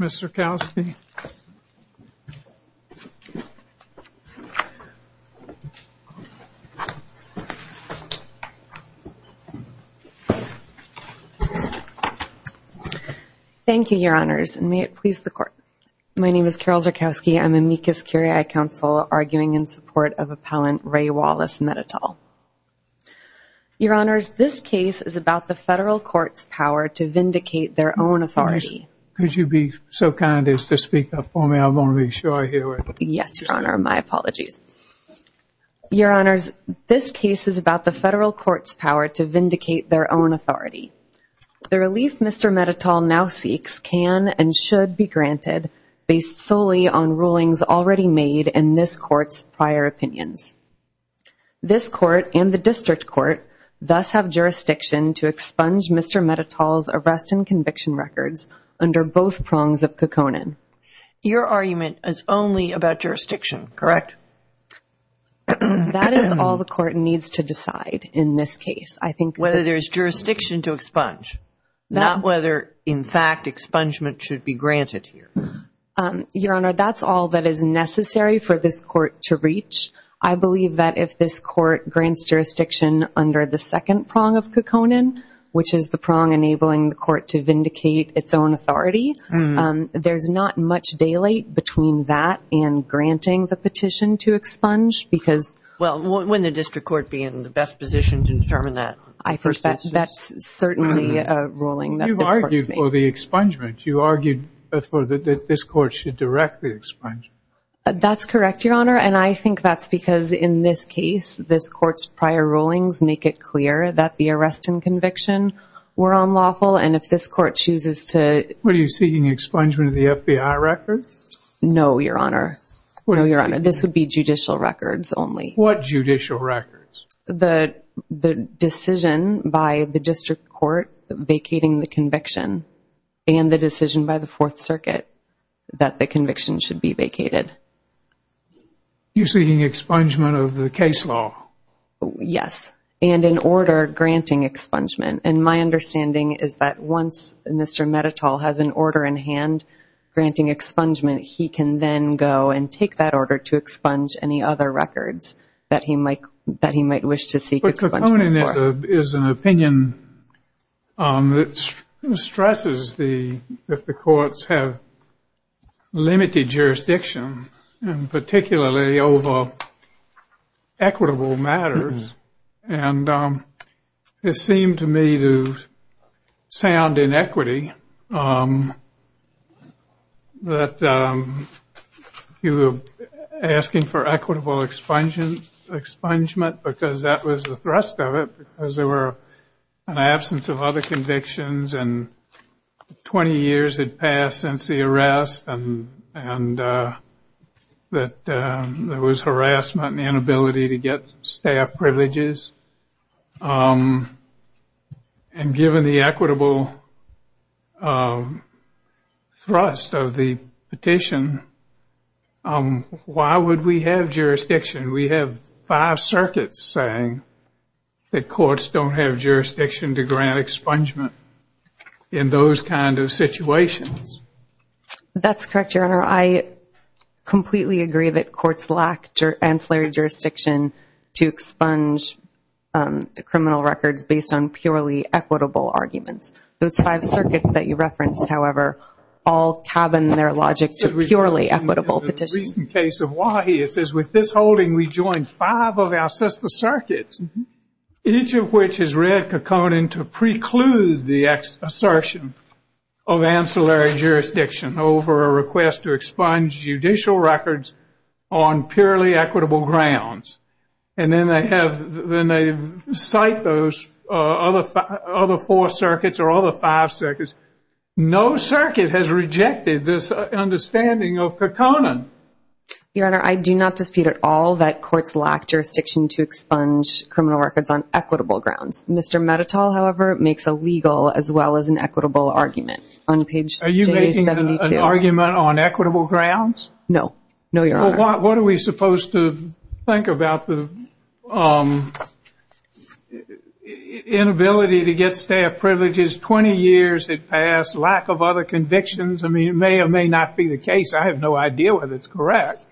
Mr. Zyrkowski. Thank you, your honors, and may it please the court. My name is Carol Zyrkowski, I'm amicus curiae counsel arguing in support of appellant Ray Wallace Mettetal. Your honors, this case is about the federal court's power to vindicate their own authority. Could you be so kind as to speak up for me, I want to be sure I hear what you're saying. Yes, your honor, my apologies. Your honors, this case is about the federal court's power to vindicate their own authority. The relief Mr. Mettetal now seeks can and should be granted based solely on rulings already made in this court's prior opinions. This court and the district court thus have jurisdiction to expunge Mr. Mettetal's arrest and conviction records under both prongs of Kekkonen. Your argument is only about jurisdiction, correct? That is all the court needs to decide in this case. Whether there's jurisdiction to expunge, not whether in fact expungement should be granted here. Your honor, that's all that is necessary for this court to reach. I believe that if this court grants jurisdiction under the second prong of Kekkonen, which is the prong enabling the court to vindicate its own authority, there's not much daylight between that and granting the petition to expunge. Well, wouldn't the district court be in the best position to determine that? I think that's certainly a ruling that this court has made. For the expungement, you argued that this court should directly expunge. That's correct, your honor, and I think that's because in this case, this court's prior rulings make it clear that the arrest and conviction were unlawful, and if this court chooses to... Were you seeking expungement of the FBI records? No, your honor. This would be judicial records only. What judicial records? The decision by the district court vacating the conviction and the decision by the Fourth Circuit that the conviction should be vacated. You're seeking expungement of the case law? Yes, and an order granting expungement, and my understanding is that once Mr. Metatol has an order in hand granting expungement, he can then go and take that order to expunge any other records that he might wish to seek expungement for. But the opinion is an opinion that stresses that the courts have limited jurisdiction, and particularly over equitable matters, and it seemed to me to sound inequity that you were asking for equitable expungement because that was the thrust of it because there were an absence of other convictions, and 20 years had passed since the arrest, and there was harassment and inability to get staff privileges, and given the equitable thrust of the petition, why would we have jurisdiction? We have five circuits saying that courts don't have jurisdiction to grant expungement in those kind of situations. That's correct, Your Honor. I completely agree that courts lack ancillary jurisdiction to expunge criminal records based on purely equitable arguments. Those five circuits that you referenced, however, all cabin their logic to purely equitable petitions. In the recent case of Wahia, it says with this holding we joined five of our sister circuits, each of which has read Kekkonen to preclude the assertion of ancillary jurisdiction over a request to expunge judicial records on purely equitable grounds, and then they cite those other four circuits or other five circuits. No circuit has rejected this understanding of Kekkonen. Your Honor, I do not dispute at all that courts lack jurisdiction to expunge criminal records on equitable grounds. Mr. Metatol, however, makes a legal as well as an equitable argument on page 72. Are you making an argument on equitable grounds? No. No, Your Honor. What are we supposed to think about the inability to get staff privileges? Twenty years had passed, lack of other convictions. I mean, it may or may not be the case. I have no idea whether it's correct,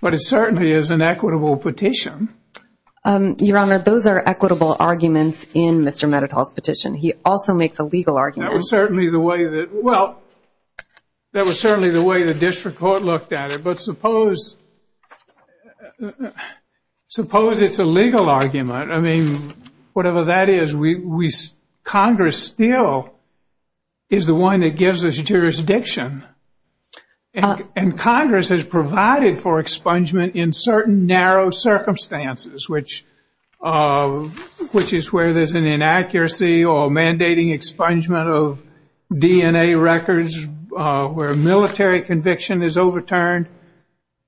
but it certainly is an equitable petition. Your Honor, those are equitable arguments in Mr. Metatol's petition. He also makes a legal argument. That was certainly the way the district court looked at it. But suppose it's a legal argument. I mean, whatever that is, Congress still is the one that gives us jurisdiction. And Congress has provided for expungement in certain narrow circumstances, which is where there's an inaccuracy or mandating expungement of DNA records where a military conviction is overturned.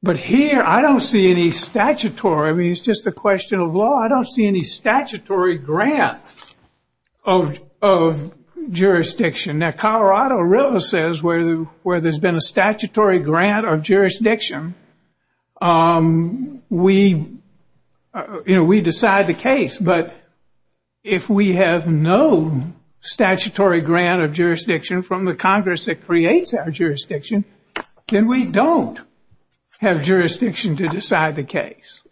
But here I don't see any statutory. I mean, it's just a question of law. I don't see any statutory grant of jurisdiction. Now, Colorado River says where there's been a statutory grant of jurisdiction, we decide the case. But if we have no statutory grant of jurisdiction from the Congress that creates our jurisdiction, then we don't have jurisdiction to decide the case.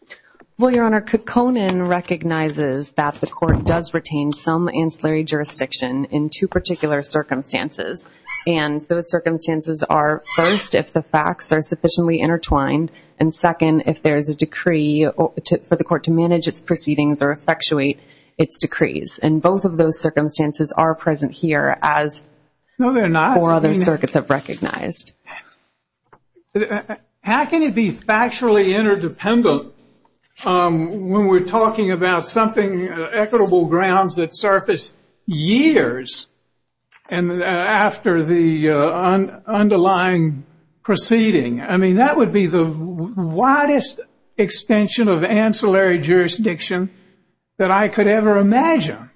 Well, Your Honor, Conan recognizes that the court does retain some ancillary jurisdiction in two particular circumstances. And those circumstances are, first, if the facts are sufficiently intertwined, and, second, if there is a decree for the court to manage its proceedings or effectuate its decrees. And both of those circumstances are present here, as four other circuits have recognized. How can it be factually interdependent when we're talking about something, equitable grounds that surface years after the underlying proceeding? I mean, that would be the widest extension of ancillary jurisdiction that I could ever imagine.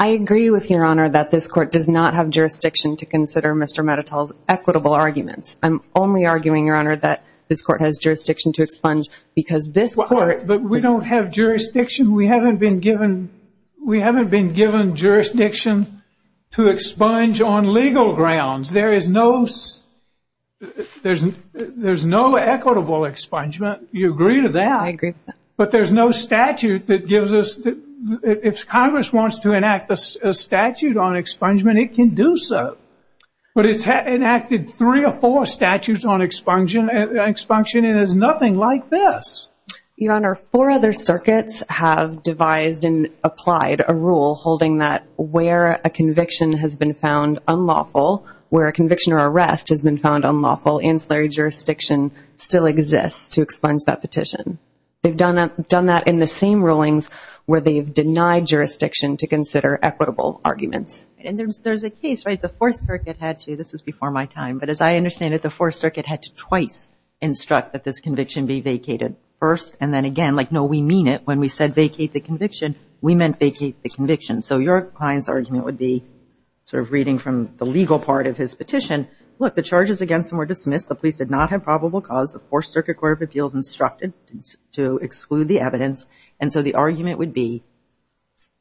I agree with you, Your Honor, that this court does not have jurisdiction to consider Mr. Medetol's equitable arguments. I'm only arguing, Your Honor, that this court has jurisdiction to expunge because this court- But we don't have jurisdiction. We haven't been given jurisdiction to expunge on legal grounds. There is no equitable expungement. Do you agree with that? I agree with that. But there's no statute that gives us- If Congress wants to enact a statute on expungement, it can do so. But it's enacted three or four statutes on expunction and there's nothing like this. Your Honor, four other circuits have devised and applied a rule holding that where a conviction has been found unlawful, where a conviction or arrest has been found unlawful, ancillary jurisdiction still exists to expunge that petition. They've done that in the same rulings where they've denied jurisdiction to consider equitable arguments. And there's a case, right? The Fourth Circuit had to-this was before my time-but as I understand it, the Fourth Circuit had to twice instruct that this conviction be vacated first and then again. Like, no, we mean it. When we said vacate the conviction, we meant vacate the conviction. So your client's argument would be sort of reading from the legal part of his petition. Look, the charges against him were dismissed. The police did not have probable cause. The Fourth Circuit Court of Appeals instructed to exclude the evidence. And so the argument would be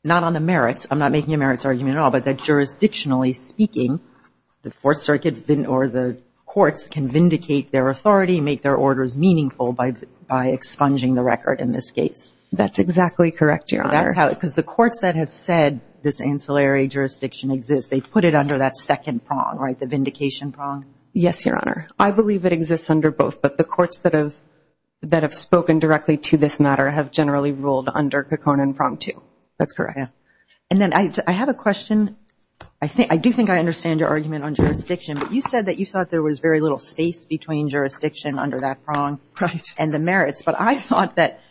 not on the merits-I'm not making a merits argument at all-but that jurisdictionally speaking, the Fourth Circuit or the courts can vindicate their authority, make their orders meaningful by expunging the record in this case. That's exactly correct, Your Honor. Because the courts that have said this ancillary jurisdiction exists, they put it under that second prong, right, the vindication prong? Yes, Your Honor. I believe it exists under both, but the courts that have spoken directly to this matter have generally ruled under Kekone and Prong 2. That's correct. And then I have a question. I do think I understand your argument on jurisdiction, but you said that you thought there was very little space between jurisdiction under that prong and the merits. But I thought that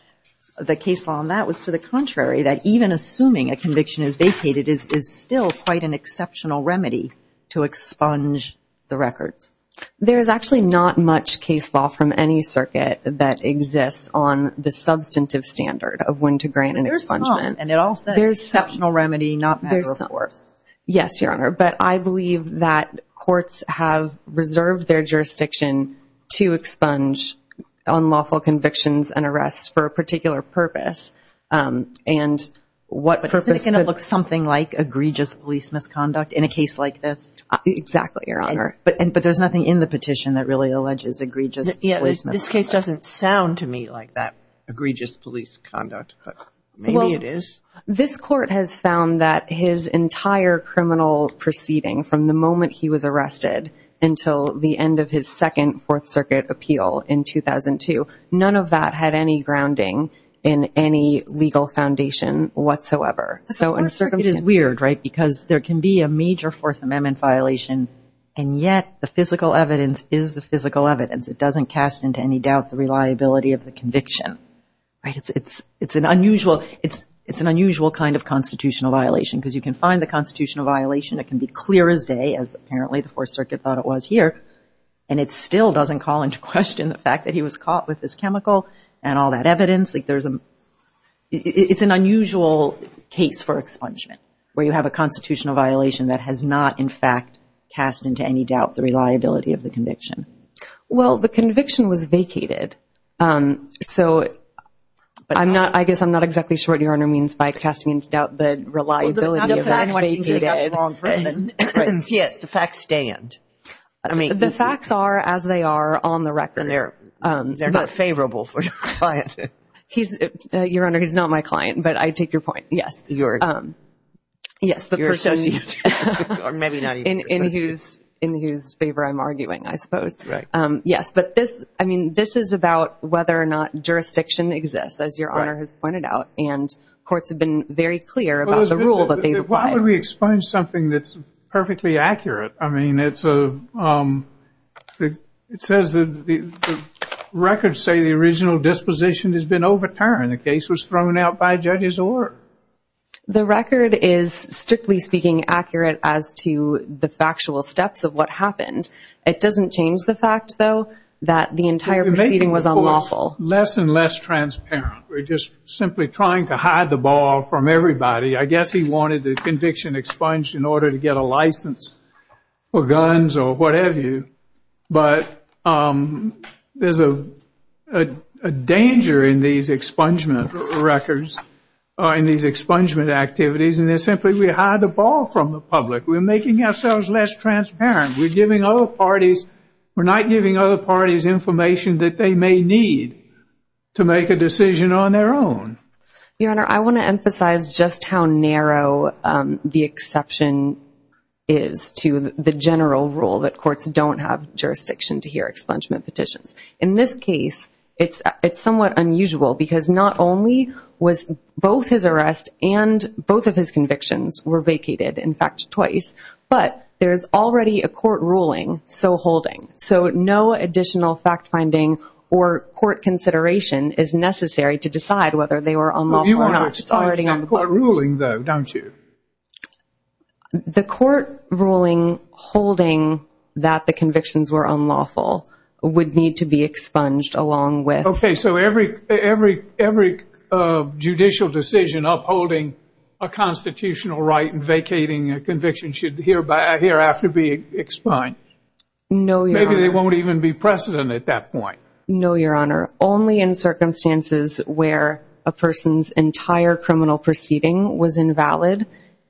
the case law on that was to the contrary, that even assuming a conviction is vacated is still quite an exceptional remedy to expunge the records. There is actually not much case law from any circuit that exists on the substantive standard of when to grant an expungement. But there's some, and it all says exceptional remedy, not matter of course. Yes, Your Honor. But I believe that courts have reserved their jurisdiction to expunge unlawful convictions and arrests for a particular purpose, and what purpose- But isn't it going to look something like egregious police misconduct in a case like this? Exactly, Your Honor. But there's nothing in the petition that really alleges egregious police misconduct. This case doesn't sound to me like that egregious police conduct, but maybe it is. This court has found that his entire criminal proceeding from the moment he was arrested until the end of his second Fourth Circuit appeal in 2002, none of that had any grounding in any legal foundation whatsoever. It is weird, right, because there can be a major Fourth Amendment violation, and yet the physical evidence is the physical evidence. It doesn't cast into any doubt the reliability of the conviction. It's an unusual kind of constitutional violation because you can find the constitutional violation. It can be clear as day, as apparently the Fourth Circuit thought it was here, and it still doesn't call into question the fact that he was caught with this chemical and all that evidence. It's an unusual case for expungement where you have a constitutional violation that has not, in fact, cast into any doubt the reliability of the conviction. Well, the conviction was vacated. So I guess I'm not exactly sure what Your Honor means by casting into doubt the reliability. Well, the facts stand. The facts are as they are on the record. They're not favorable for your client. Your Honor, he's not my client, but I take your point, yes. Yes, the person in whose favor I'm arguing, I suppose. Yes, but this is about whether or not jurisdiction exists, as Your Honor has pointed out, and courts have been very clear about the rule that they require. Why don't we explain something that's perfectly accurate? I mean, it says the records say the original disposition has been overturned. The case was thrown out by a judge's order. The record is, strictly speaking, accurate as to the factual steps of what happened. It doesn't change the fact, though, that the entire proceeding was unlawful. It's less and less transparent. We're just simply trying to hide the ball from everybody. I guess he wanted the conviction expunged in order to get a license for guns or whatever, but there's a danger in these expungement records, in these expungement activities, and it's simply we hide the ball from the public. We're making ourselves less transparent. We're not giving other parties information that they may need to make a decision on their own. Your Honor, I want to emphasize just how narrow the exception is to the general rule that courts don't have jurisdiction to hear expungement petitions. In this case, it's somewhat unusual because not only was both his arrest and both of his convictions were vacated, in fact, twice, but there's already a court ruling so holding, so no additional fact-finding or court consideration is necessary to decide whether they were unlawful or not. You want to explain the court ruling, though, don't you? The court ruling holding that the convictions were unlawful would need to be expunged along with. Okay, so every judicial decision upholding a constitutional right and vacating a conviction should hereafter be expunged. No, Your Honor. Maybe there won't even be precedent at that point. No, Your Honor. Only in circumstances where a person's entire criminal proceeding was invalid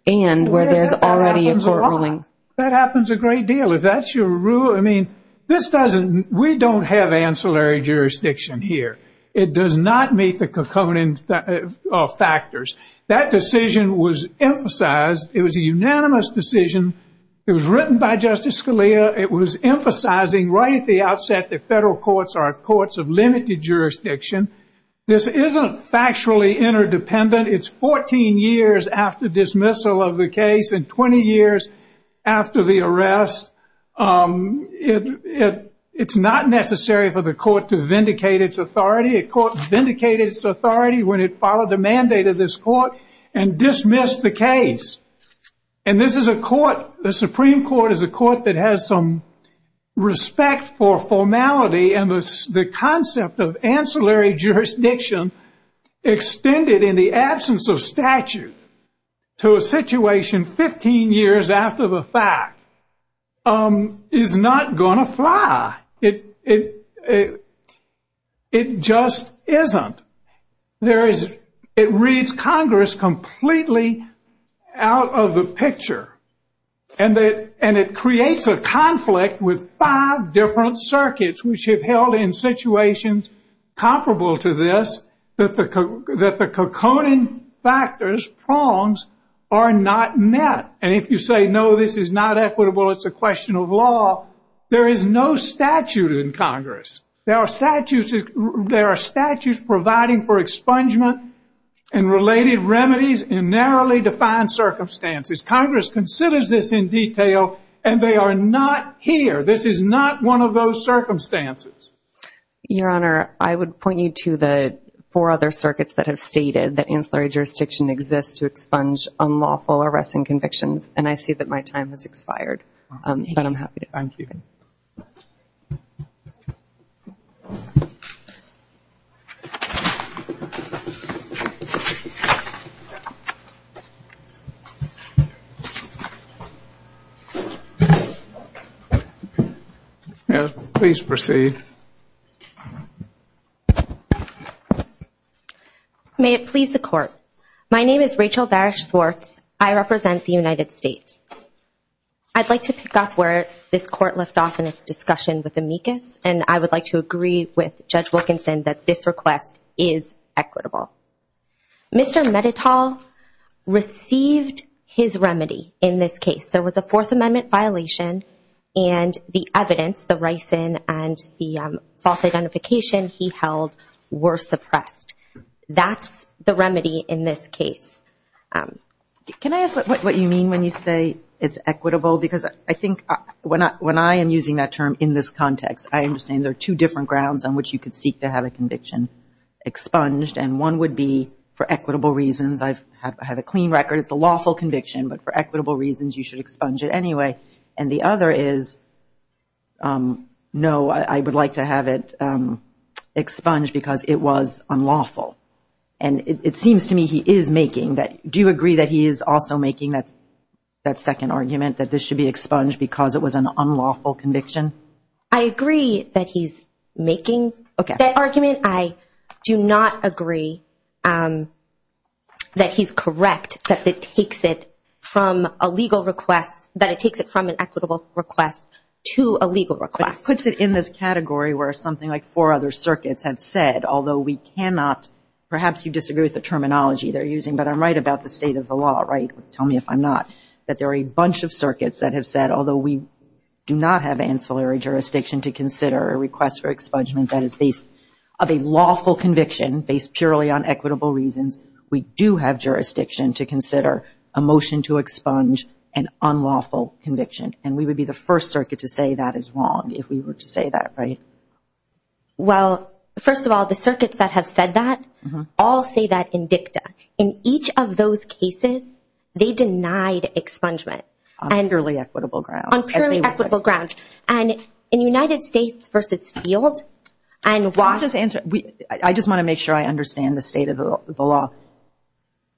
and where there's already a court ruling. That happens a lot. That happens a great deal. If that's your rule, I mean, this doesn't, we don't have ancillary jurisdiction here. It does not meet the covenant of factors. That decision was emphasized. It was a unanimous decision. It was written by Justice Scalia. It was emphasizing right at the outset that federal courts are courts of limited jurisdiction. This isn't factually interdependent. It's 14 years after dismissal of the case and 20 years after the arrest. It's not necessary for the court to vindicate its authority. A court vindicated its authority when it followed the mandate of this court and dismissed the case. And this is a court, the Supreme Court is a court that has some respect for formality and the concept of ancillary jurisdiction extended in the absence of statute to a situation 15 years after the fact is not going to fly. It just isn't. It reads Congress completely out of the picture. And it creates a conflict with five different circuits which have held in situations comparable to this that the covenant factors, prongs, are not met. And if you say, no, this is not equitable, it's a question of law, there is no statute in Congress. There are statutes providing for expungement and related remedies in narrowly defined circumstances. Congress considers this in detail, and they are not here. This is not one of those circumstances. Your Honor, I would point you to the four other circuits that have stated that ancillary jurisdiction exists to expunge unlawful arresting convictions, and I see that my time has expired. But I'm happy to continue. Please proceed. May it please the Court. My name is Rachel Barish Swartz. I represent the United States. I'd like to pick up where this Court left off in its discussion with Amicus, and I would like to agree with Judge Wilkinson that this request is equitable. Mr. Medetol received his remedy in this case. There was a Fourth Amendment violation, and the evidence, the ricin, and the false identification he held were suppressed. That's the remedy in this case. Can I ask what you mean when you say it's equitable? Because I think when I am using that term in this context, I understand there are two different grounds on which you could seek to have a conviction expunged, and one would be for equitable reasons. I have a clean record. It's a lawful conviction, but for equitable reasons, you should expunge it anyway. And the other is, no, I would like to have it expunged because it was unlawful. And it seems to me he is making that. Do you agree that he is also making that second argument, that this should be expunged because it was an unlawful conviction? I agree that he's making that argument. I do not agree that he's correct, that it takes it from a legal request, that it takes it from an equitable request to a legal request. He puts it in this category where something like four other circuits have said, although we cannot, perhaps you disagree with the terminology they're using, but I'm right about the state of the law, right? Tell me if I'm not, that there are a bunch of circuits that have said, although we do not have ancillary jurisdiction to consider a request for expungement that is based of a lawful conviction based purely on equitable reasons, we do have jurisdiction to consider a motion to expunge an unlawful conviction. And we would be the first circuit to say that is wrong if we were to say that, right? Well, first of all, the circuits that have said that all say that in dicta. In each of those cases, they denied expungement. On purely equitable grounds. On purely equitable grounds. And in United States v. Field, and why – I just want to make sure I understand the state of the law.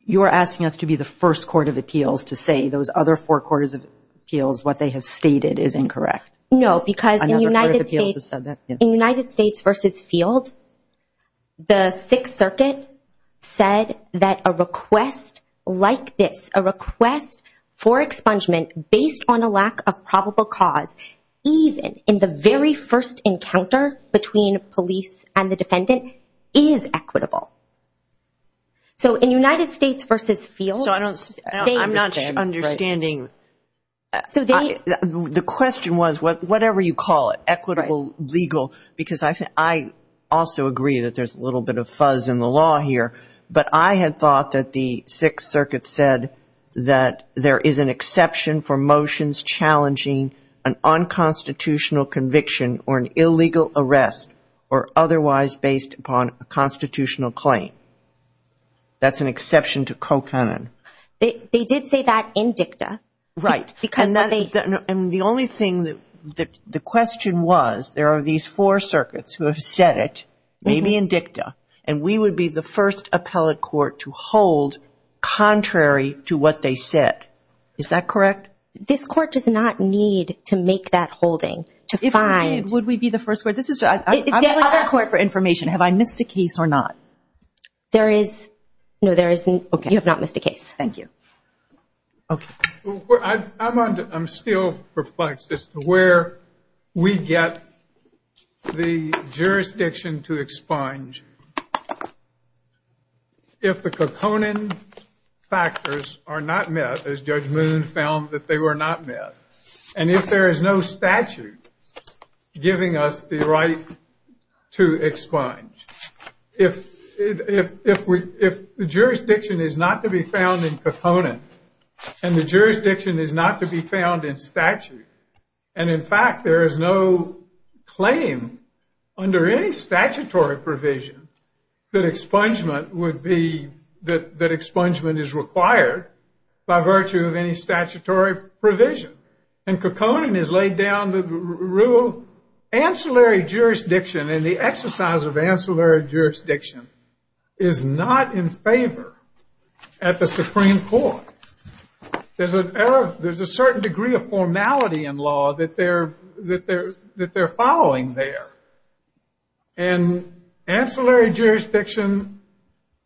You are asking us to be the first court of appeals to say those other four courts of appeals, what they have stated is incorrect. No, because in United States v. Field, the Sixth Circuit said that a request like this, a request for expungement based on a lack of probable cause, even in the very first encounter between police and the defendant, is equitable. So in United States v. Field – So I don't – I'm not understanding. So they – The question was, whatever you call it, equitable, legal, because I also agree that there's a little bit of fuzz in the law here, but I had thought that the Sixth Circuit said that there is an exception for motions challenging an unconstitutional conviction or an illegal arrest or otherwise based upon a constitutional claim. That's an exception to co-canon. They did say that in dicta. Right. Because what they – And the only thing that – the question was, there are these four circuits who have said it, maybe in dicta, and we would be the first appellate court to hold contrary to what they said. Is that correct? This court does not need to make that holding to find – If we did, would we be the first court? This is – I'm asking for information. Have I missed a case or not? There is – no, there isn't. You have not missed a case. Thank you. I'm still perplexed as to where we get the jurisdiction to expunge if the co-canon factors are not met, as Judge Moon found that they were not met, and if there is no statute giving us the right to expunge. If the jurisdiction is not to be found in co-canon and the jurisdiction is not to be found in statute, and, in fact, there is no claim under any statutory provision that expungement would be – that expungement is required by virtue of any statutory provision, and co-canon has laid down the rule. Ancillary jurisdiction and the exercise of ancillary jurisdiction is not in favor at the Supreme Court. There's a certain degree of formality in law that they're following there, and ancillary jurisdiction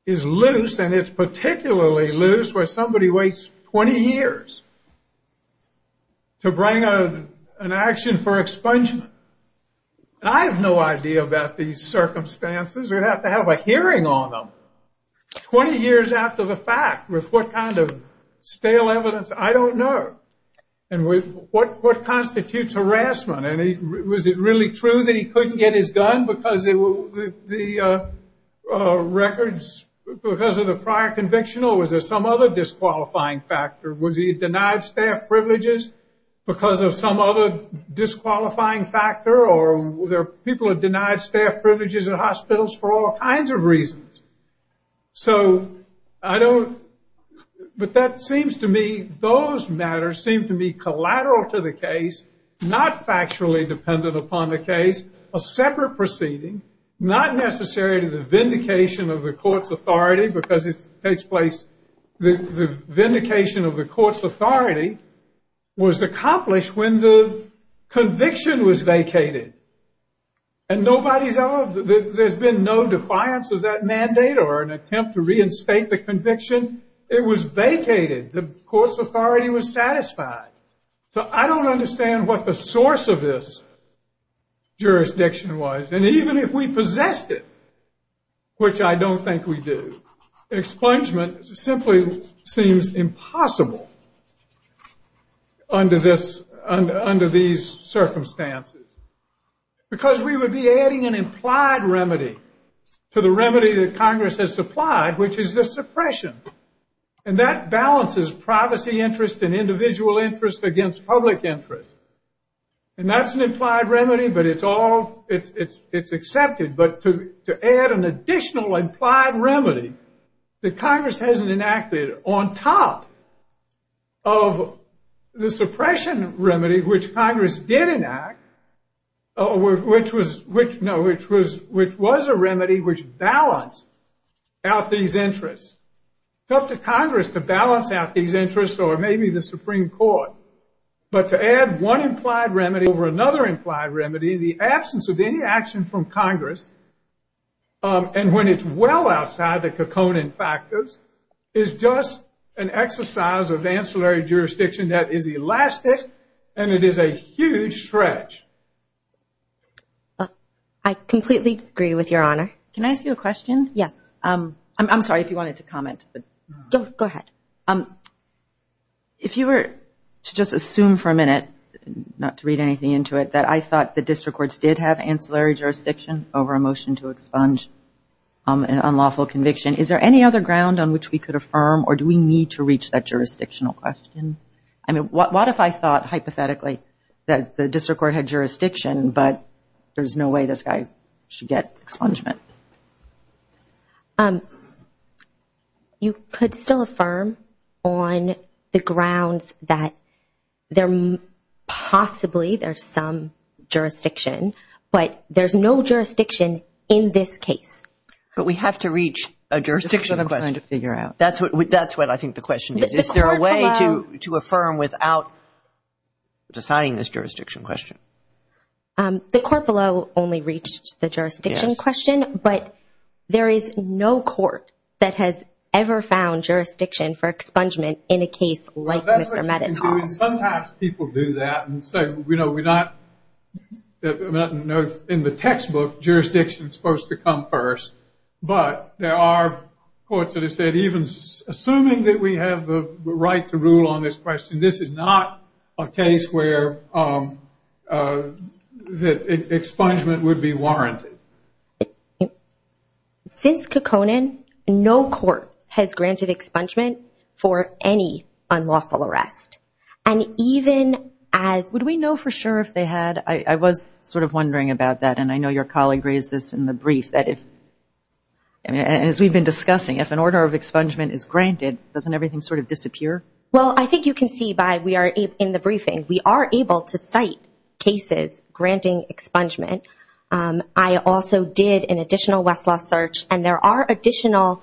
is loose, and it's particularly loose where somebody waits 20 years to bring an action for expungement. And I have no idea about these circumstances. We'd have to have a hearing on them 20 years after the fact with what kind of stale evidence. I don't know. And what constitutes harassment? Was it really true that he couldn't get his gun because of the records, because of the prior conviction, or was there some other disqualifying factor? Was he denied staff privileges because of some other disqualifying factor, or people are denied staff privileges in hospitals for all kinds of reasons? So I don't – but that seems to me – those matters seem to me collateral to the case, not factually dependent upon the case, a separate proceeding, not necessary to the vindication of the court's authority because it takes place – the vindication of the court's authority was accomplished when the conviction was vacated. And nobody's – there's been no defiance of that mandate or an attempt to reinstate the conviction. It was vacated. The court's authority was satisfied. So I don't understand what the source of this jurisdiction was. And even if we possessed it, which I don't think we do, expungement simply seems impossible under these circumstances because we would be adding an implied remedy to the remedy that Congress has supplied, which is the suppression. And that balances privacy interest and individual interest against public interest. And that's an implied remedy, but it's all – it's accepted. But to add an additional implied remedy that Congress hasn't enacted on top of the suppression remedy, which Congress did enact, which was a remedy which balanced out these interests. It's up to Congress to balance out these interests or maybe the Supreme Court. But to add one implied remedy over another implied remedy in the absence of any action from Congress and when it's well outside the cocooning factors is just an exercise of ancillary jurisdiction that is elastic and it is a huge stretch. I completely agree with Your Honor. Can I ask you a question? Yes. I'm sorry if you wanted to comment. Go ahead. If you were to just assume for a minute, not to read anything into it, that I thought the district courts did have ancillary jurisdiction over a motion to expunge an unlawful conviction, is there any other ground on which we could affirm or do we need to reach that jurisdictional question? I mean, what if I thought hypothetically that the district court had jurisdiction but there's no way this guy should get expungement? You could still affirm on the grounds that possibly there's some jurisdiction, but there's no jurisdiction in this case. But we have to reach a jurisdiction question. That's what I'm trying to figure out. That's what I think the question is. Is there a way to affirm without deciding this jurisdiction question? The court below only reached the jurisdiction question, but there is no court that has ever found jurisdiction for expungement in a case like Mr. Mettaton. Sometimes people do that and say, in the textbook jurisdiction is supposed to come first, but there are courts that have said, even assuming that we have the right to rule on this question, this is not a case where expungement would be warranted. Since Kekkonen, no court has granted expungement for any unlawful arrest. Would we know for sure if they had? I was sort of wondering about that, and I know your colleague raised this in the brief. As we've been discussing, if an order of expungement is granted, doesn't everything sort of disappear? Well, I think you can see by we are in the briefing, we are able to cite cases granting expungement. I also did an additional Westlaw search, and there are additional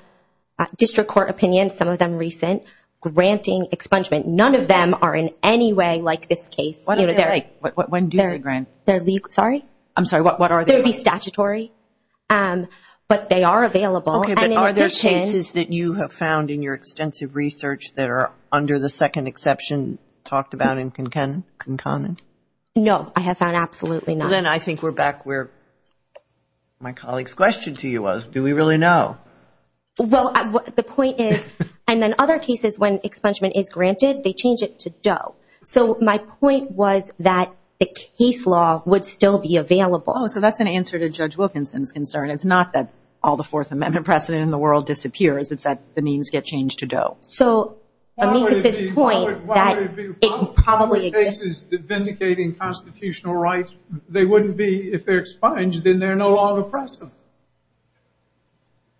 district court opinions, some of them recent, granting expungement. None of them are in any way like this case. When do they grant? Sorry? I'm sorry, what are they? They would be statutory, but they are available. Are there cases that you have found in your extensive research that are under the second exception talked about in Kekkonen? No, I have found absolutely none. Then I think we're back where my colleague's question to you was. Do we really know? Well, the point is, and then other cases when expungement is granted, they change it to Doe. So my point was that the case law would still be available. Oh, so that's an answer to Judge Wilkinson's concern. It's not that all the Fourth Amendment precedent in the world disappears. It's that the means get changed to Doe. So, I mean, this is his point that it probably exists. All the cases vindicating constitutional rights, they wouldn't be if they're expunged, then they're no longer present.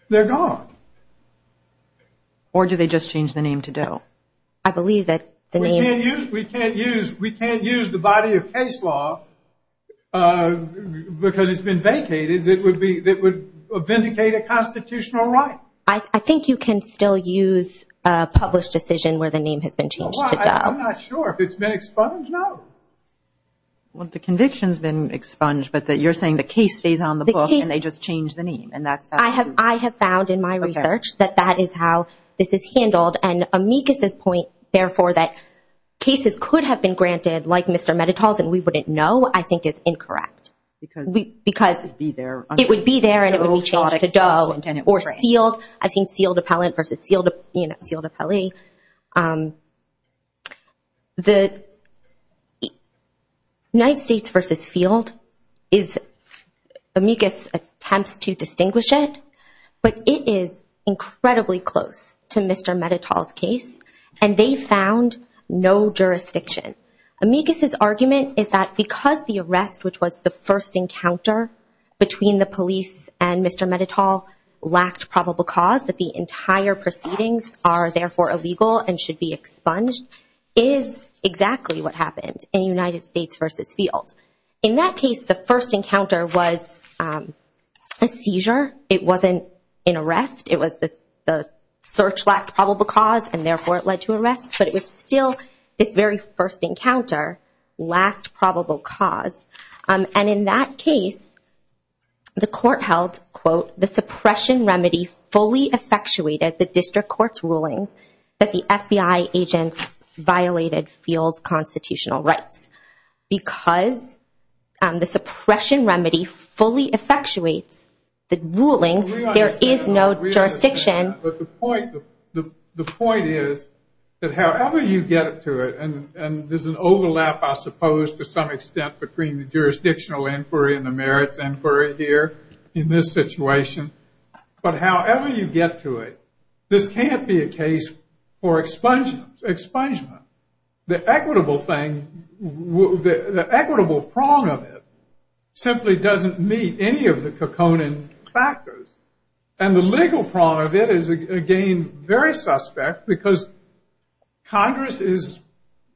They're gone. Or do they just change the name to Doe? I believe that the name. We can't use the body of case law because it's been vacated that would vindicate a constitutional right. I think you can still use a published decision where the name has been changed to Doe. I'm not sure. If it's been expunged, no. Well, the conviction's been expunged, but you're saying the case stays on the book and they just change the name. I have found in my research that that is how this is handled. And Amicus's point, therefore, that cases could have been granted, like Mr. Metatol's and we wouldn't know, I think is incorrect. Because it would be there. It would be there and it would be changed to Doe. Or sealed. I've seen sealed appellant versus sealed appellee. The United States versus field, Amicus attempts to distinguish it, but it is incredibly close to Mr. Metatol's case, and they found no jurisdiction. Amicus's argument is that because the arrest, which was the first encounter between the police and Mr. Metatol, lacked probable cause that the entire proceedings are, therefore, illegal and should be expunged is exactly what happened in United States versus field. In that case, the first encounter was a seizure. It wasn't an arrest. It was the search lacked probable cause and, therefore, it led to arrest. But it was still this very first encounter lacked probable cause. And in that case, the court held, quote, the suppression remedy fully effectuated the district court's rulings that the FBI agent violated field's constitutional rights. Because the suppression remedy fully effectuates the ruling, there is no jurisdiction. But the point is that however you get to it, and there's an overlap, I suppose, to some extent, between the jurisdictional inquiry and the merits inquiry here in this situation, but however you get to it, this can't be a case for expungement. The equitable thing, the equitable prong of it simply doesn't meet any of the Kokonin factors. And the legal prong of it is, again, very suspect because Congress is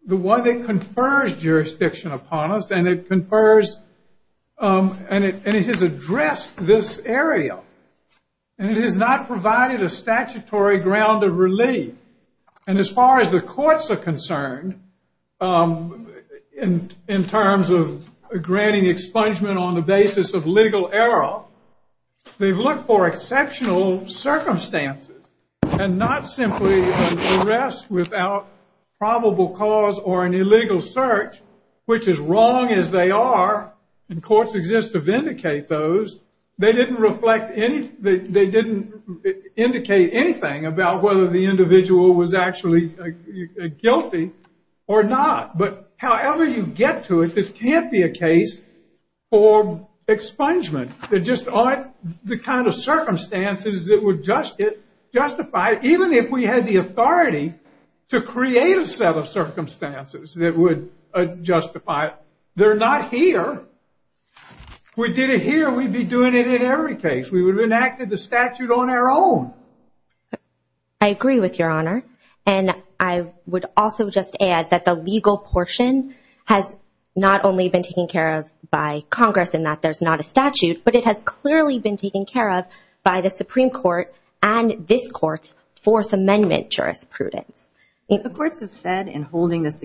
the one that confers jurisdiction upon us, and it confers, and it has addressed this area. And it has not provided a statutory ground of relief. And as far as the courts are concerned, in terms of granting expungement on the basis of legal error, they've looked for exceptional circumstances, and not simply an arrest without probable cause or an illegal search, which is wrong as they are, and courts exist to vindicate those. They didn't indicate anything about whether the individual was actually guilty or not. But however you get to it, this can't be a case for expungement. There just aren't the kind of circumstances that would justify it, even if we had the authority to create a set of circumstances that would justify it. They're not here. If we did it here, we'd be doing it in every case. We would have enacted the statute on our own. I agree with Your Honor, and I would also just add that the legal portion has not only been taken care of by Congress in that there's not a statute, but it has clearly been taken care of by the Supreme Court and this Court's Fourth Amendment jurisprudence. What the courts have said in holding this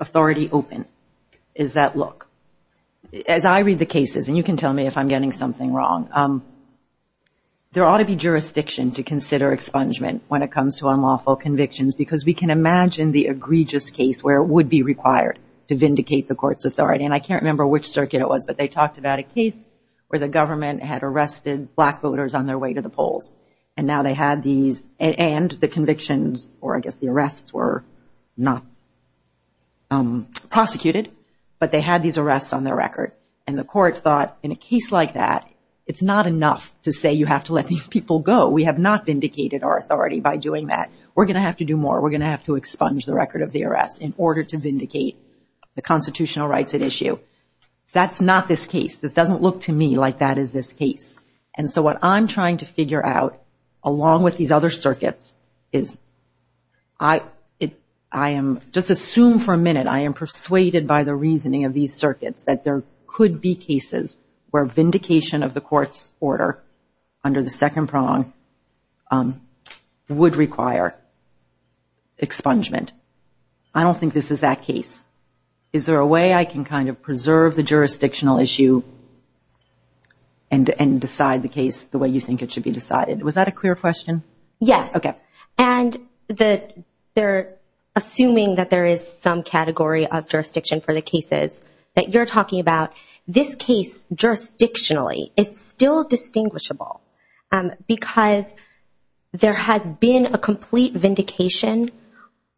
authority open is that, look, as I read the cases, and you can tell me if I'm getting something wrong, there ought to be jurisdiction to consider expungement when it comes to unlawful convictions, because we can imagine the egregious case where it would be required to expunge. And I can't remember which circuit it was, but they talked about a case where the government had arrested black voters on their way to the polls. And now they had these, and the convictions, or I guess the arrests were not prosecuted, but they had these arrests on their record. And the court thought, in a case like that, it's not enough to say you have to let these people go. We have not vindicated our authority by doing that. We're going to have to do more. We're going to have to expunge the record of the arrests in order to That's not this case. This doesn't look to me like that is this case. And so what I'm trying to figure out, along with these other circuits, is I am, just assume for a minute, I am persuaded by the reasoning of these circuits that there could be cases where vindication of the court's order under the second prong would require expungement. I don't think this is that case. Is there a way I can kind of preserve the jurisdictional issue and decide the case the way you think it should be decided? Was that a clear question? Yes. Okay. And they're assuming that there is some category of jurisdiction for the cases that you're talking about. This case, jurisdictionally, is still distinguishable because there has been a complete vindication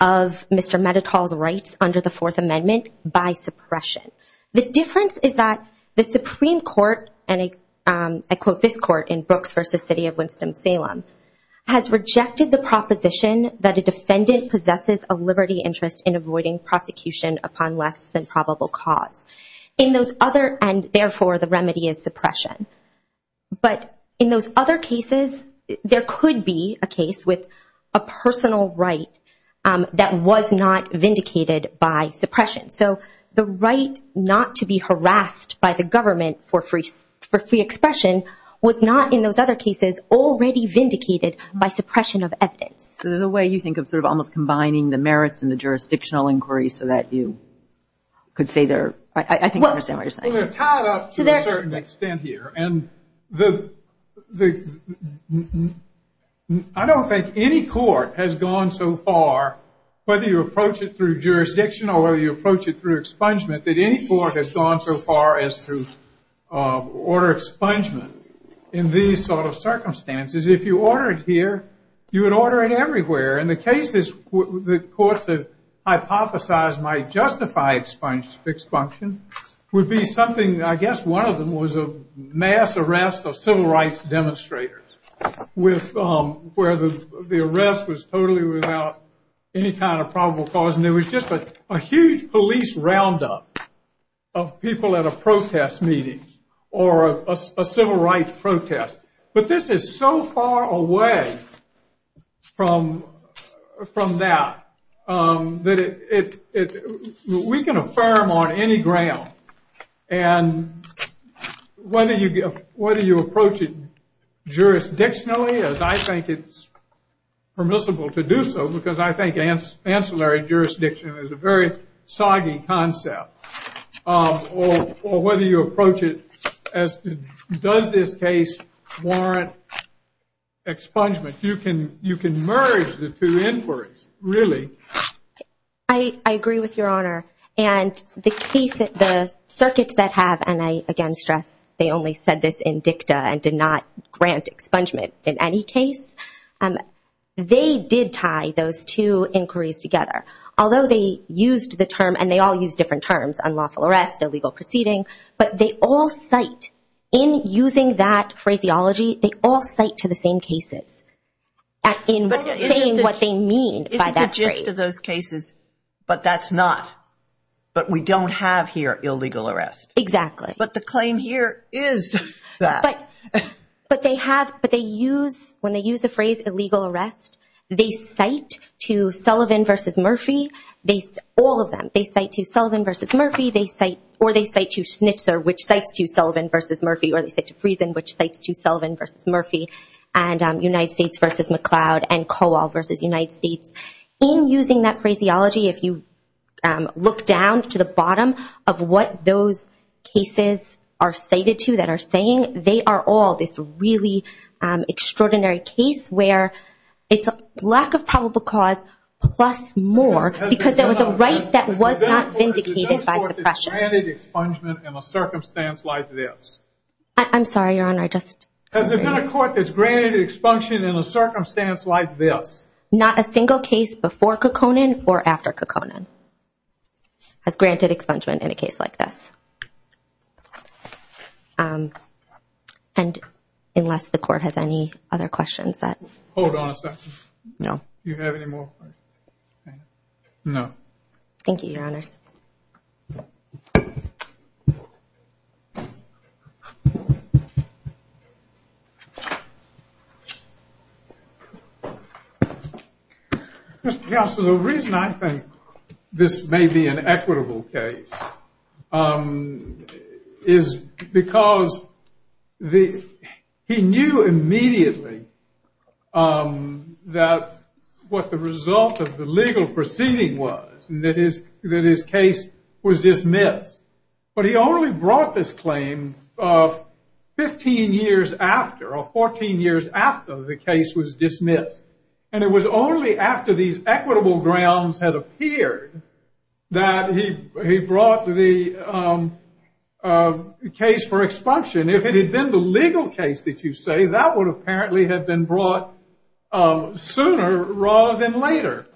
of Mr. Medetol's rights under the Fourth Amendment by suppression. The difference is that the Supreme Court, and I quote this court in Brooks v. City of Winston-Salem, has rejected the proposition that a defendant possesses a liberty interest in avoiding prosecution upon less than probable cause. And, therefore, the remedy is suppression. But in those other cases, there could be a case with a personal right that was not vindicated by suppression. So the right not to be harassed by the government for free expression was not, in those other cases, already vindicated by suppression of evidence. So there's a way you think of sort of almost combining the merits and the jurisdictional inquiries so that you could say they're, I think I understand what you're saying. They're tied up to a certain extent here. And I don't think any court has gone so far, whether you approach it through jurisdiction or whether you approach it through expungement, that any court has gone so far as to order expungement in these sort of circumstances. If you order it here, you would order it everywhere. And the case that the courts have hypothesized might justify expunged would be something, I guess one of them, was a mass arrest of civil rights demonstrators where the arrest was totally without any kind of probable cause. And there was just a huge police roundup of people at a protest meeting or a civil rights protest. But this is so far away from that that we can affirm, on any ground, and whether you approach it jurisdictionally, as I think it's permissible to do so, because I think ancillary jurisdiction is a very soggy concept, or whether you approach it as does this case warrant expungement. You can merge the two inquiries, really. I agree with Your Honor. And the circuits that have, and I, again, stress, they only said this in dicta and did not grant expungement in any case, they did tie those two inquiries together. Although they used the term, and they all used different terms, unlawful arrest, illegal proceeding. But they all cite, in using that phraseology, they all cite to the same cases in saying what they mean by that phrase. Most of those cases, but that's not, but we don't have here illegal arrest. Exactly. But the claim here is that. But they have, but they use, when they use the phrase illegal arrest, they cite to Sullivan v. Murphy, all of them. They cite to Sullivan v. Murphy, or they cite to Schnitzer, which cites to Sullivan v. Murphy, or they cite to Friesen, which cites to Sullivan v. Murphy, and United States v. McLeod, and Coal v. United States. In using that phraseology, if you look down to the bottom of what those cases are cited to that are saying, they are all this really extraordinary case where it's a lack of probable cause, plus more, because there was a right that was not vindicated by suppression. Has there been a court that's granted expungement in a circumstance like this? I'm sorry, Your Honor, I just. Has there been a court that's granted expungement in a circumstance like this? Not a single case before Kekkonen or after Kekkonen has granted expungement in a case like this. And unless the court has any other questions that. Hold on a second. No. Do you have any more? No. Thank you, Your Honors. Mr. Counsel, the reason I think this may be an equitable case is because he knew immediately that what the result of the legal proceeding was, and that his case was dismissed. But he only brought this claim 15 years after, or 14 years after the case was dismissed. And it was only after these equitable grounds had appeared that he brought the case for expunction. If it had been the legal case that you say, that would apparently have been brought sooner rather than later.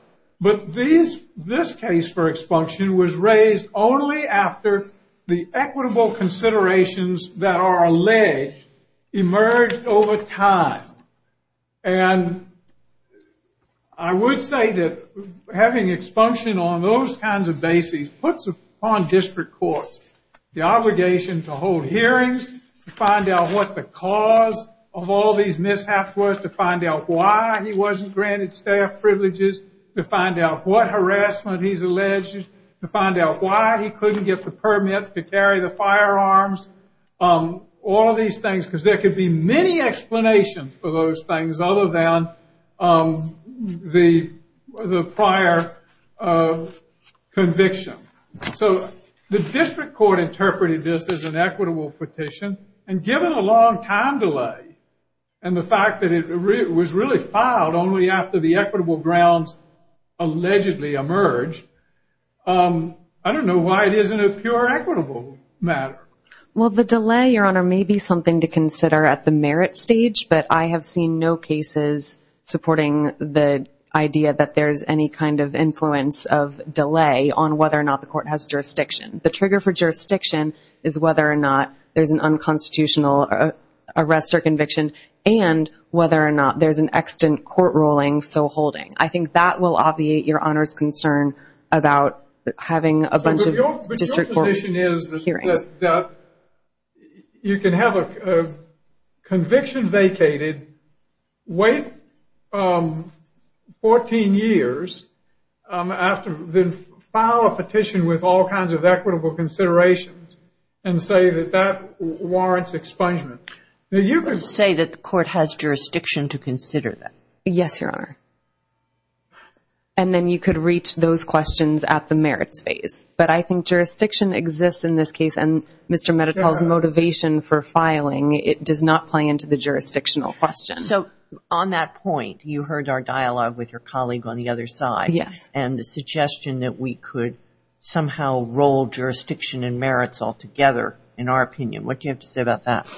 But this case for expunction was raised only after the equitable considerations that are alleged emerged over time. And I would say that having expunction on those kinds of bases puts upon district courts the obligation to hold hearings, to find out what the cause of all these mishaps was, to find out why he wasn't granted staff privileges, to find out what harassment he's alleged, to find out why he couldn't get the permit to carry the firearms, all of these things, because there could be many explanations for those things other than the prior conviction. So the district court interpreted this as an equitable petition, and given a long time delay, and the fact that it was really filed only after the equitable grounds allegedly emerged, I don't know why it isn't a pure equitable matter. Well, the delay, Your Honor, may be something to consider at the merit stage, but I have seen no cases supporting the idea that there's any kind of influence of delay on whether or not the court has jurisdiction. The trigger for jurisdiction is whether or not there's an unconstitutional arrest or conviction and whether or not there's an extant court ruling, so holding. I think that will obviate Your Honor's concern about having a bunch of district court hearings. But your position is that you can have a conviction vacated, wait 14 years, then file a petition with all kinds of equitable considerations and say that that warrants expungement. You can say that the court has jurisdiction to consider that. Yes, Your Honor. And then you could reach those questions at the merits phase. But I think jurisdiction exists in this case, and Mr. Medetol's motivation for filing, it does not play into the jurisdictional question. So on that point, you heard our dialogue with your colleague on the other side and the suggestion that we could somehow roll jurisdiction and merits all together, in our opinion. What do you have to say about that?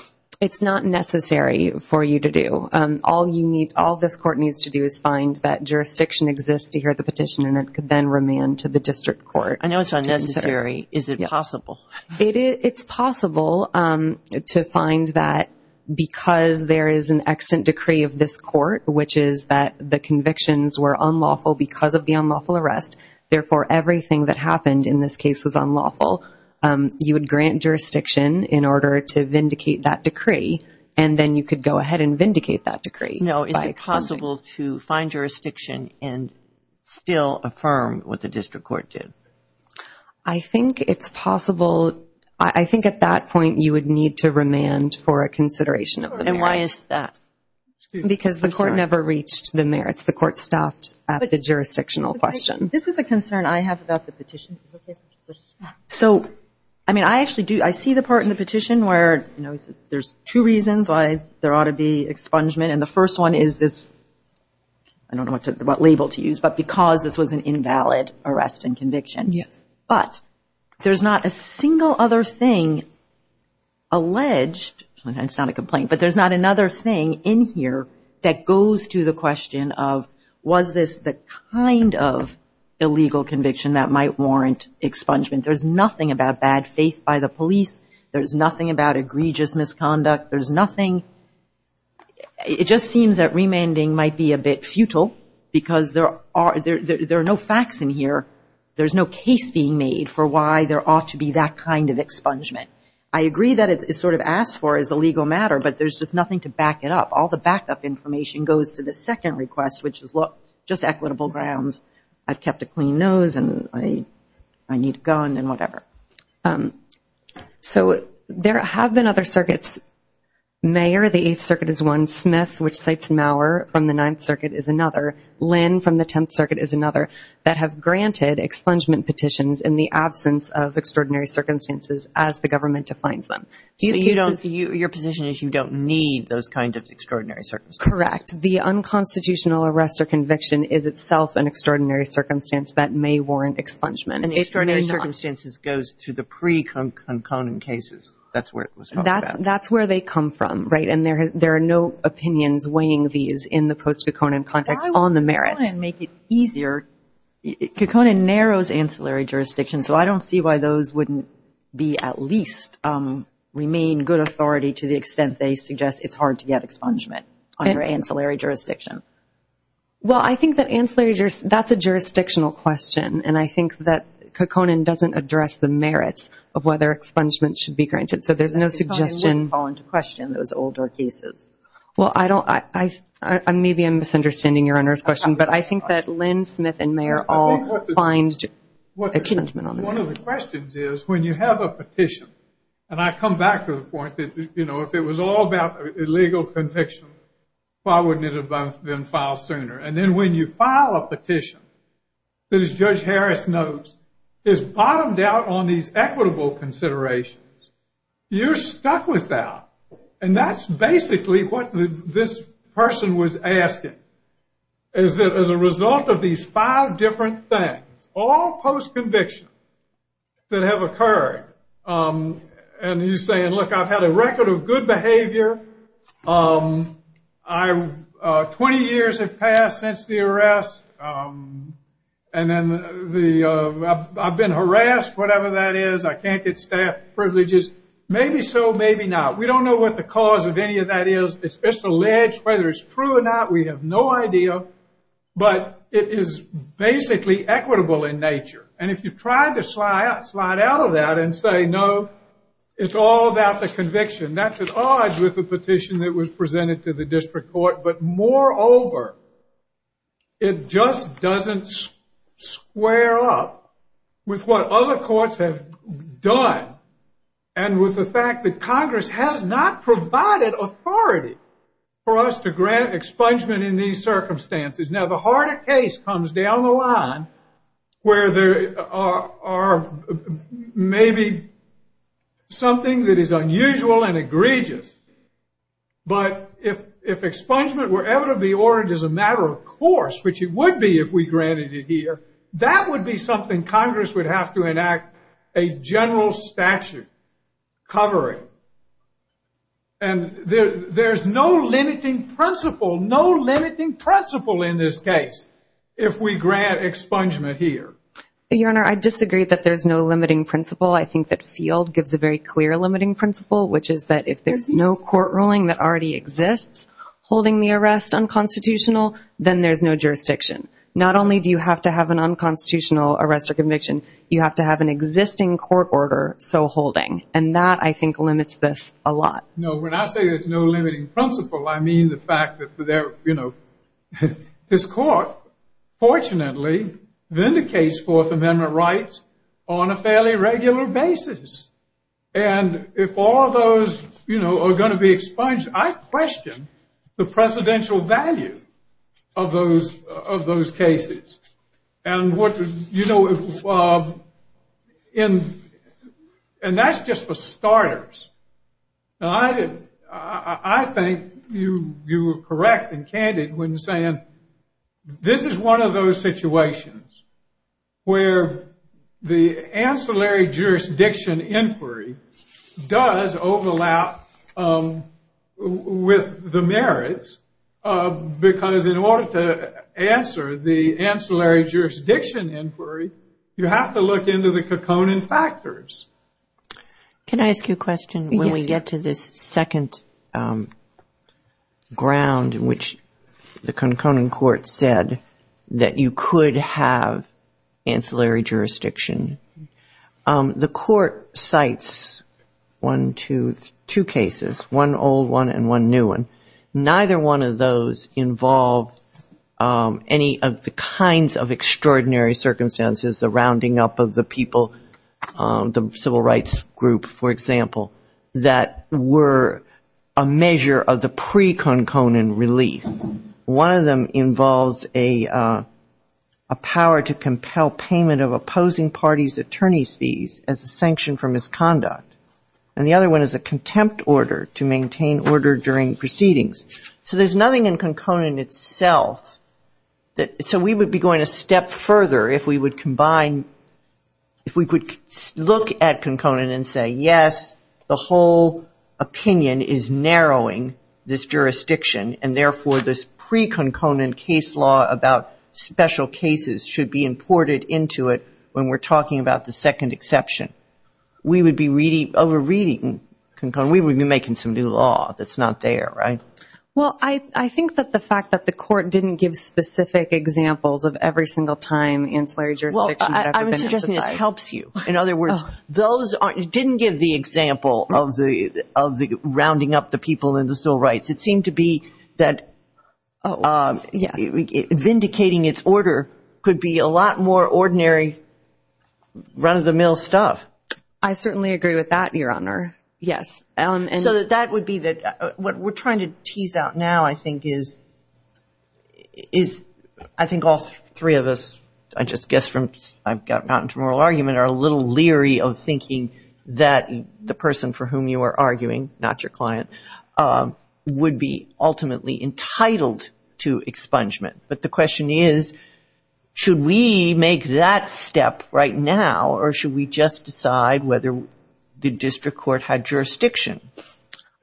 It's not necessary for you to do. All this court needs to do is find that jurisdiction exists to hear the petition and it could then remand to the district court. I know it's unnecessary. Is it possible? It's possible to find that because there is an extant decree of this court, which is that the convictions were unlawful because of the unlawful arrest, therefore everything that happened in this case was unlawful, you would grant jurisdiction in order to vindicate that decree, and then you could go ahead and vindicate that decree. No, is it possible to find jurisdiction and still affirm what the district court did? I think it's possible. I think at that point you would need to remand for a consideration of the merits. And why is that? Because the court never reached the merits. The court stopped at the jurisdictional question. This is a concern I have about the petition. So, I mean, I actually do, I see the part in the petition where, you know, there's two reasons why there ought to be expungement, and the first one is this, I don't know what label to use, but because this was an invalid arrest and conviction. Yes. But there's not a single other thing alleged, and it's not a complaint, but there's not another thing in here that goes to the question of, was this the kind of illegal conviction that might warrant expungement? There's nothing about bad faith by the police. There's nothing about egregious misconduct. There's nothing. It just seems that remanding might be a bit futile because there are no facts in here. There's no case being made for why there ought to be that kind of expungement. I agree that it's sort of asked for as a legal matter, but there's just nothing to back it up. All the backup information goes to the second request, which is just equitable grounds. I've kept a clean nose, and I need a gun and whatever. So there have been other circuits. Mayor of the Eighth Circuit is one, Smith, which cites Maurer from the Ninth Circuit, is another. Lynn from the Tenth Circuit is another that have granted expungement petitions in the absence of extraordinary circumstances as the government defines them. So your position is you don't need those kinds of extraordinary circumstances? Correct. The unconstitutional arrest or conviction is itself an extraordinary circumstance that may warrant expungement. Extraordinary circumstances goes through the pre-Kokonen cases. That's where it was talking about. That's where they come from, right, and there are no opinions weighing these in the post-Kokonen context on the merits. Why would Kokonen make it easier? Kokonen narrows ancillary jurisdictions, so I don't see why those wouldn't be at least remain good authority to the extent they suggest it's hard to get expungement under ancillary jurisdiction. Well, I think that's a jurisdictional question, and I think that Kokonen doesn't address the merits of whether expungement should be granted. So there's no suggestion. Kokonen wouldn't fall into question in those older cases. Well, maybe I'm misunderstanding Your Honor's question, but I think that Lynn Smith and Mayer all find expungement on that. One of the questions is when you have a petition, and I come back to the point that, you know, if it was all about illegal conviction, why wouldn't it have been filed sooner? And then when you file a petition that, as Judge Harris notes, is bottomed out on these equitable considerations, you're stuck with that, and that's basically what this person was asking, is that as a result of these five different things, all post-conviction that have occurred, and he's saying, look, I've had a record of good behavior, 20 years have passed since the arrest, and then I've been harassed, whatever that is, I can't get staff privileges, maybe so, maybe not. We don't know what the cause of any of that is. It's just alleged. Whether it's true or not, we have no idea. But it is basically equitable in nature. And if you try to slide out of that and say, no, it's all about the conviction, that's at odds with the petition that was presented to the district court. But moreover, it just doesn't square up with what other courts have done and with the fact that Congress has not provided authority for us to grant expungement in these circumstances. Now, the harder case comes down the line where there are maybe something that is unusual and egregious. But if expungement were ever to be ordered as a matter of course, which it would be if we granted it here, that would be something Congress would have to enact a general statute covering. And there's no limiting principle, no limiting principle in this case, if we grant expungement here. Your Honor, I disagree that there's no limiting principle. I think that Field gives a very clear limiting principle, which is that if there's no court ruling that already exists holding the arrest unconstitutional, then there's no jurisdiction. Not only do you have to have an unconstitutional arrest or conviction, you have to have an existing court order so holding. And that, I think, limits this a lot. No, when I say there's no limiting principle, I mean the fact that, you know, this court fortunately vindicates Fourth Amendment rights on a fairly regular basis. And if all of those, you know, are going to be expunged, I question the precedential value of those cases. And what, you know, and that's just for starters. I think you were correct and candid when saying this is one of those situations where the ancillary jurisdiction inquiry does overlap with the merits, because in order to answer the ancillary jurisdiction inquiry, you have to look into the conconin factors. Can I ask you a question? Yes. To get to this second ground in which the conconin court said that you could have ancillary jurisdiction, the court cites one, two cases, one old one and one new one. Neither one of those involve any of the kinds of extraordinary circumstances, the rounding up of the people, the civil rights group, for example, that were a measure of the pre-conconin relief. One of them involves a power to compel payment of opposing parties' attorney's fees as a sanction for misconduct. And the other one is a contempt order to maintain order during proceedings. So there's nothing in conconin itself that so we would be going a step further if we would combine, if we could look at conconin and say, yes, the whole opinion is narrowing this jurisdiction, and therefore this pre-conconin case law about special cases should be imported into it when we're talking about the second exception. We would be reading, over-reading conconin, we would be making some new law that's not there, right? Well, I think that the fact that the court didn't give specific examples of every single time ancillary jurisdictions have been exercised. Well, I'm suggesting this helps you. In other words, it didn't give the example of the rounding up the people and the civil rights. It seemed to be that vindicating its order could be a lot more ordinary, run-of-the-mill stuff. I certainly agree with that, Your Honor, yes. So that would be what we're trying to tease out now, I think, is I think all three of us, I just guess from I've gotten out into moral argument, are a little leery of thinking that the person for whom you are arguing, not your client, would be ultimately entitled to expungement. But the question is, should we make that step right now, or should we just decide whether the district court had jurisdiction?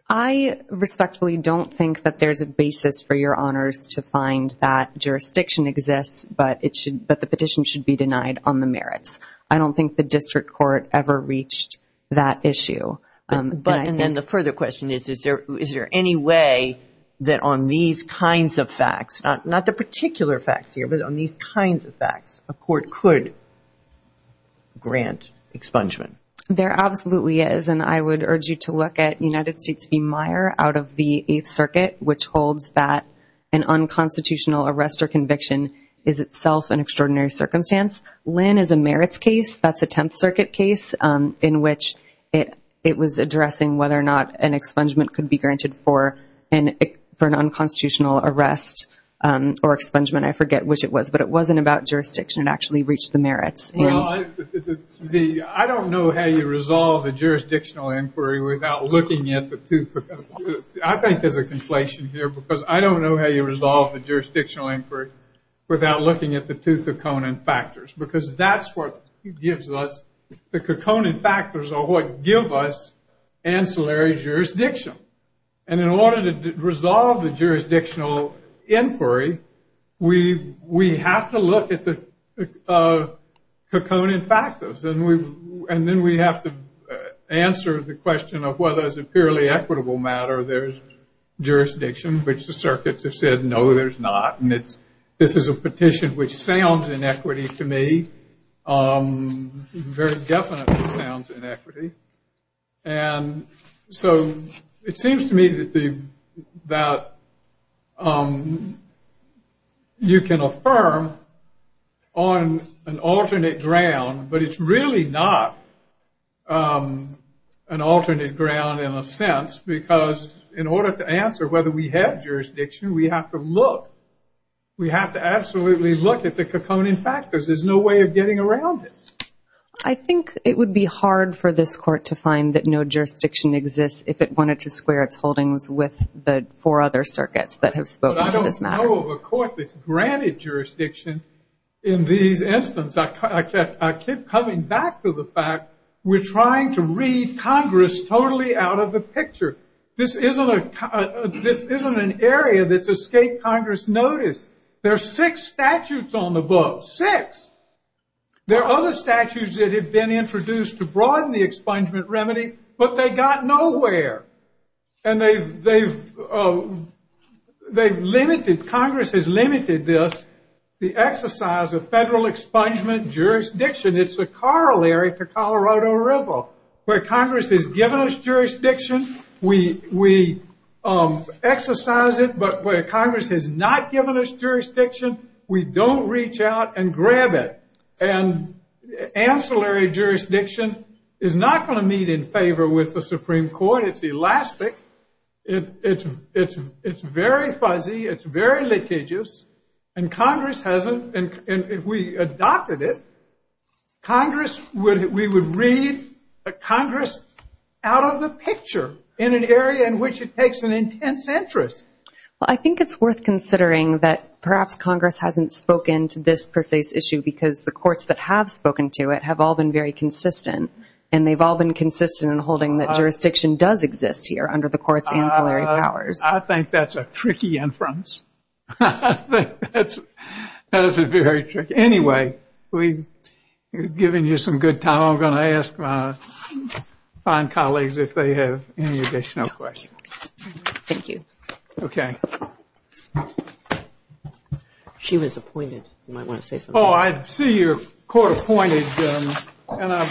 I respectfully don't think that there's a basis for your honors to find that jurisdiction exists, but the petition should be denied on the merits. I don't think the district court ever reached that issue. And the further question is, is there any way that on these kinds of facts, not the particular facts here, but on these kinds of facts, a court could grant expungement? There absolutely is, and I would urge you to look at United States v. Meyer out of the Eighth Circuit, which holds that an unconstitutional arrest or conviction is itself an extraordinary circumstance. Lynn is a merits case. That's a Tenth Circuit case in which it was addressing whether or not an expungement could be granted for an unconstitutional arrest or expungement, I forget which it was, but it wasn't about jurisdiction. It actually reached the merits. I don't know how you resolve the jurisdictional inquiry without looking at the two. I think there's a conflation here because I don't know how you resolve the jurisdictional inquiry without looking at the two Caconan factors, because that's what gives us, the Caconan factors are what give us ancillary jurisdiction. And in order to resolve the jurisdictional inquiry, we have to look at the Caconan factors. And then we have to answer the question of whether as a purely equitable matter there's jurisdiction, which the circuits have said, no, there's not. And this is a petition which sounds inequity to me, very definitely sounds inequity. And so it seems to me that you can affirm on an alternate ground, but it's really not an alternate ground in a sense, because in order to answer whether we have jurisdiction, we have to look. We have to absolutely look at the Caconan factors. There's no way of getting around it. I think it would be hard for this court to find that no jurisdiction exists if it wanted to square its holdings with the four other circuits that have spoken to this matter. But I don't know of a court that's granted jurisdiction in these instances. I keep coming back to the fact we're trying to read Congress totally out of the picture. This isn't an area that's escaped Congress notice. There are six statutes on the books, six. There are other statutes that have been introduced to broaden the expungement remedy, but they got nowhere. And they've limited, Congress has limited this, the exercise of federal expungement jurisdiction. It's a corollary to Colorado River where Congress has given us jurisdiction. We exercise it, but where Congress has not given us jurisdiction, we don't reach out and grab it. And ancillary jurisdiction is not going to meet in favor with the Supreme Court. It's elastic. It's very fuzzy. It's very litigious. And Congress hasn't. And if we adopted it, Congress would, we would read Congress out of the picture in an area in which it takes an intense interest. Well, I think it's worth considering that perhaps Congress hasn't spoken to this precise issue because the courts that have spoken to it have all been very consistent. And they've all been consistent in holding that jurisdiction does exist here under the court's ancillary powers. I think that's a tricky inference. That is very tricky. Anyway, we've given you some good time. I'm going to ask my fine colleagues if they have any additional questions. Thank you. Okay. She was appointed. You might want to say something. Oh, I see you're court-appointed. And I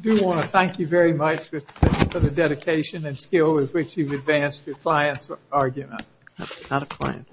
do want to thank you very much for the dedication and skill with which you've advanced your client's argument. That's not a client.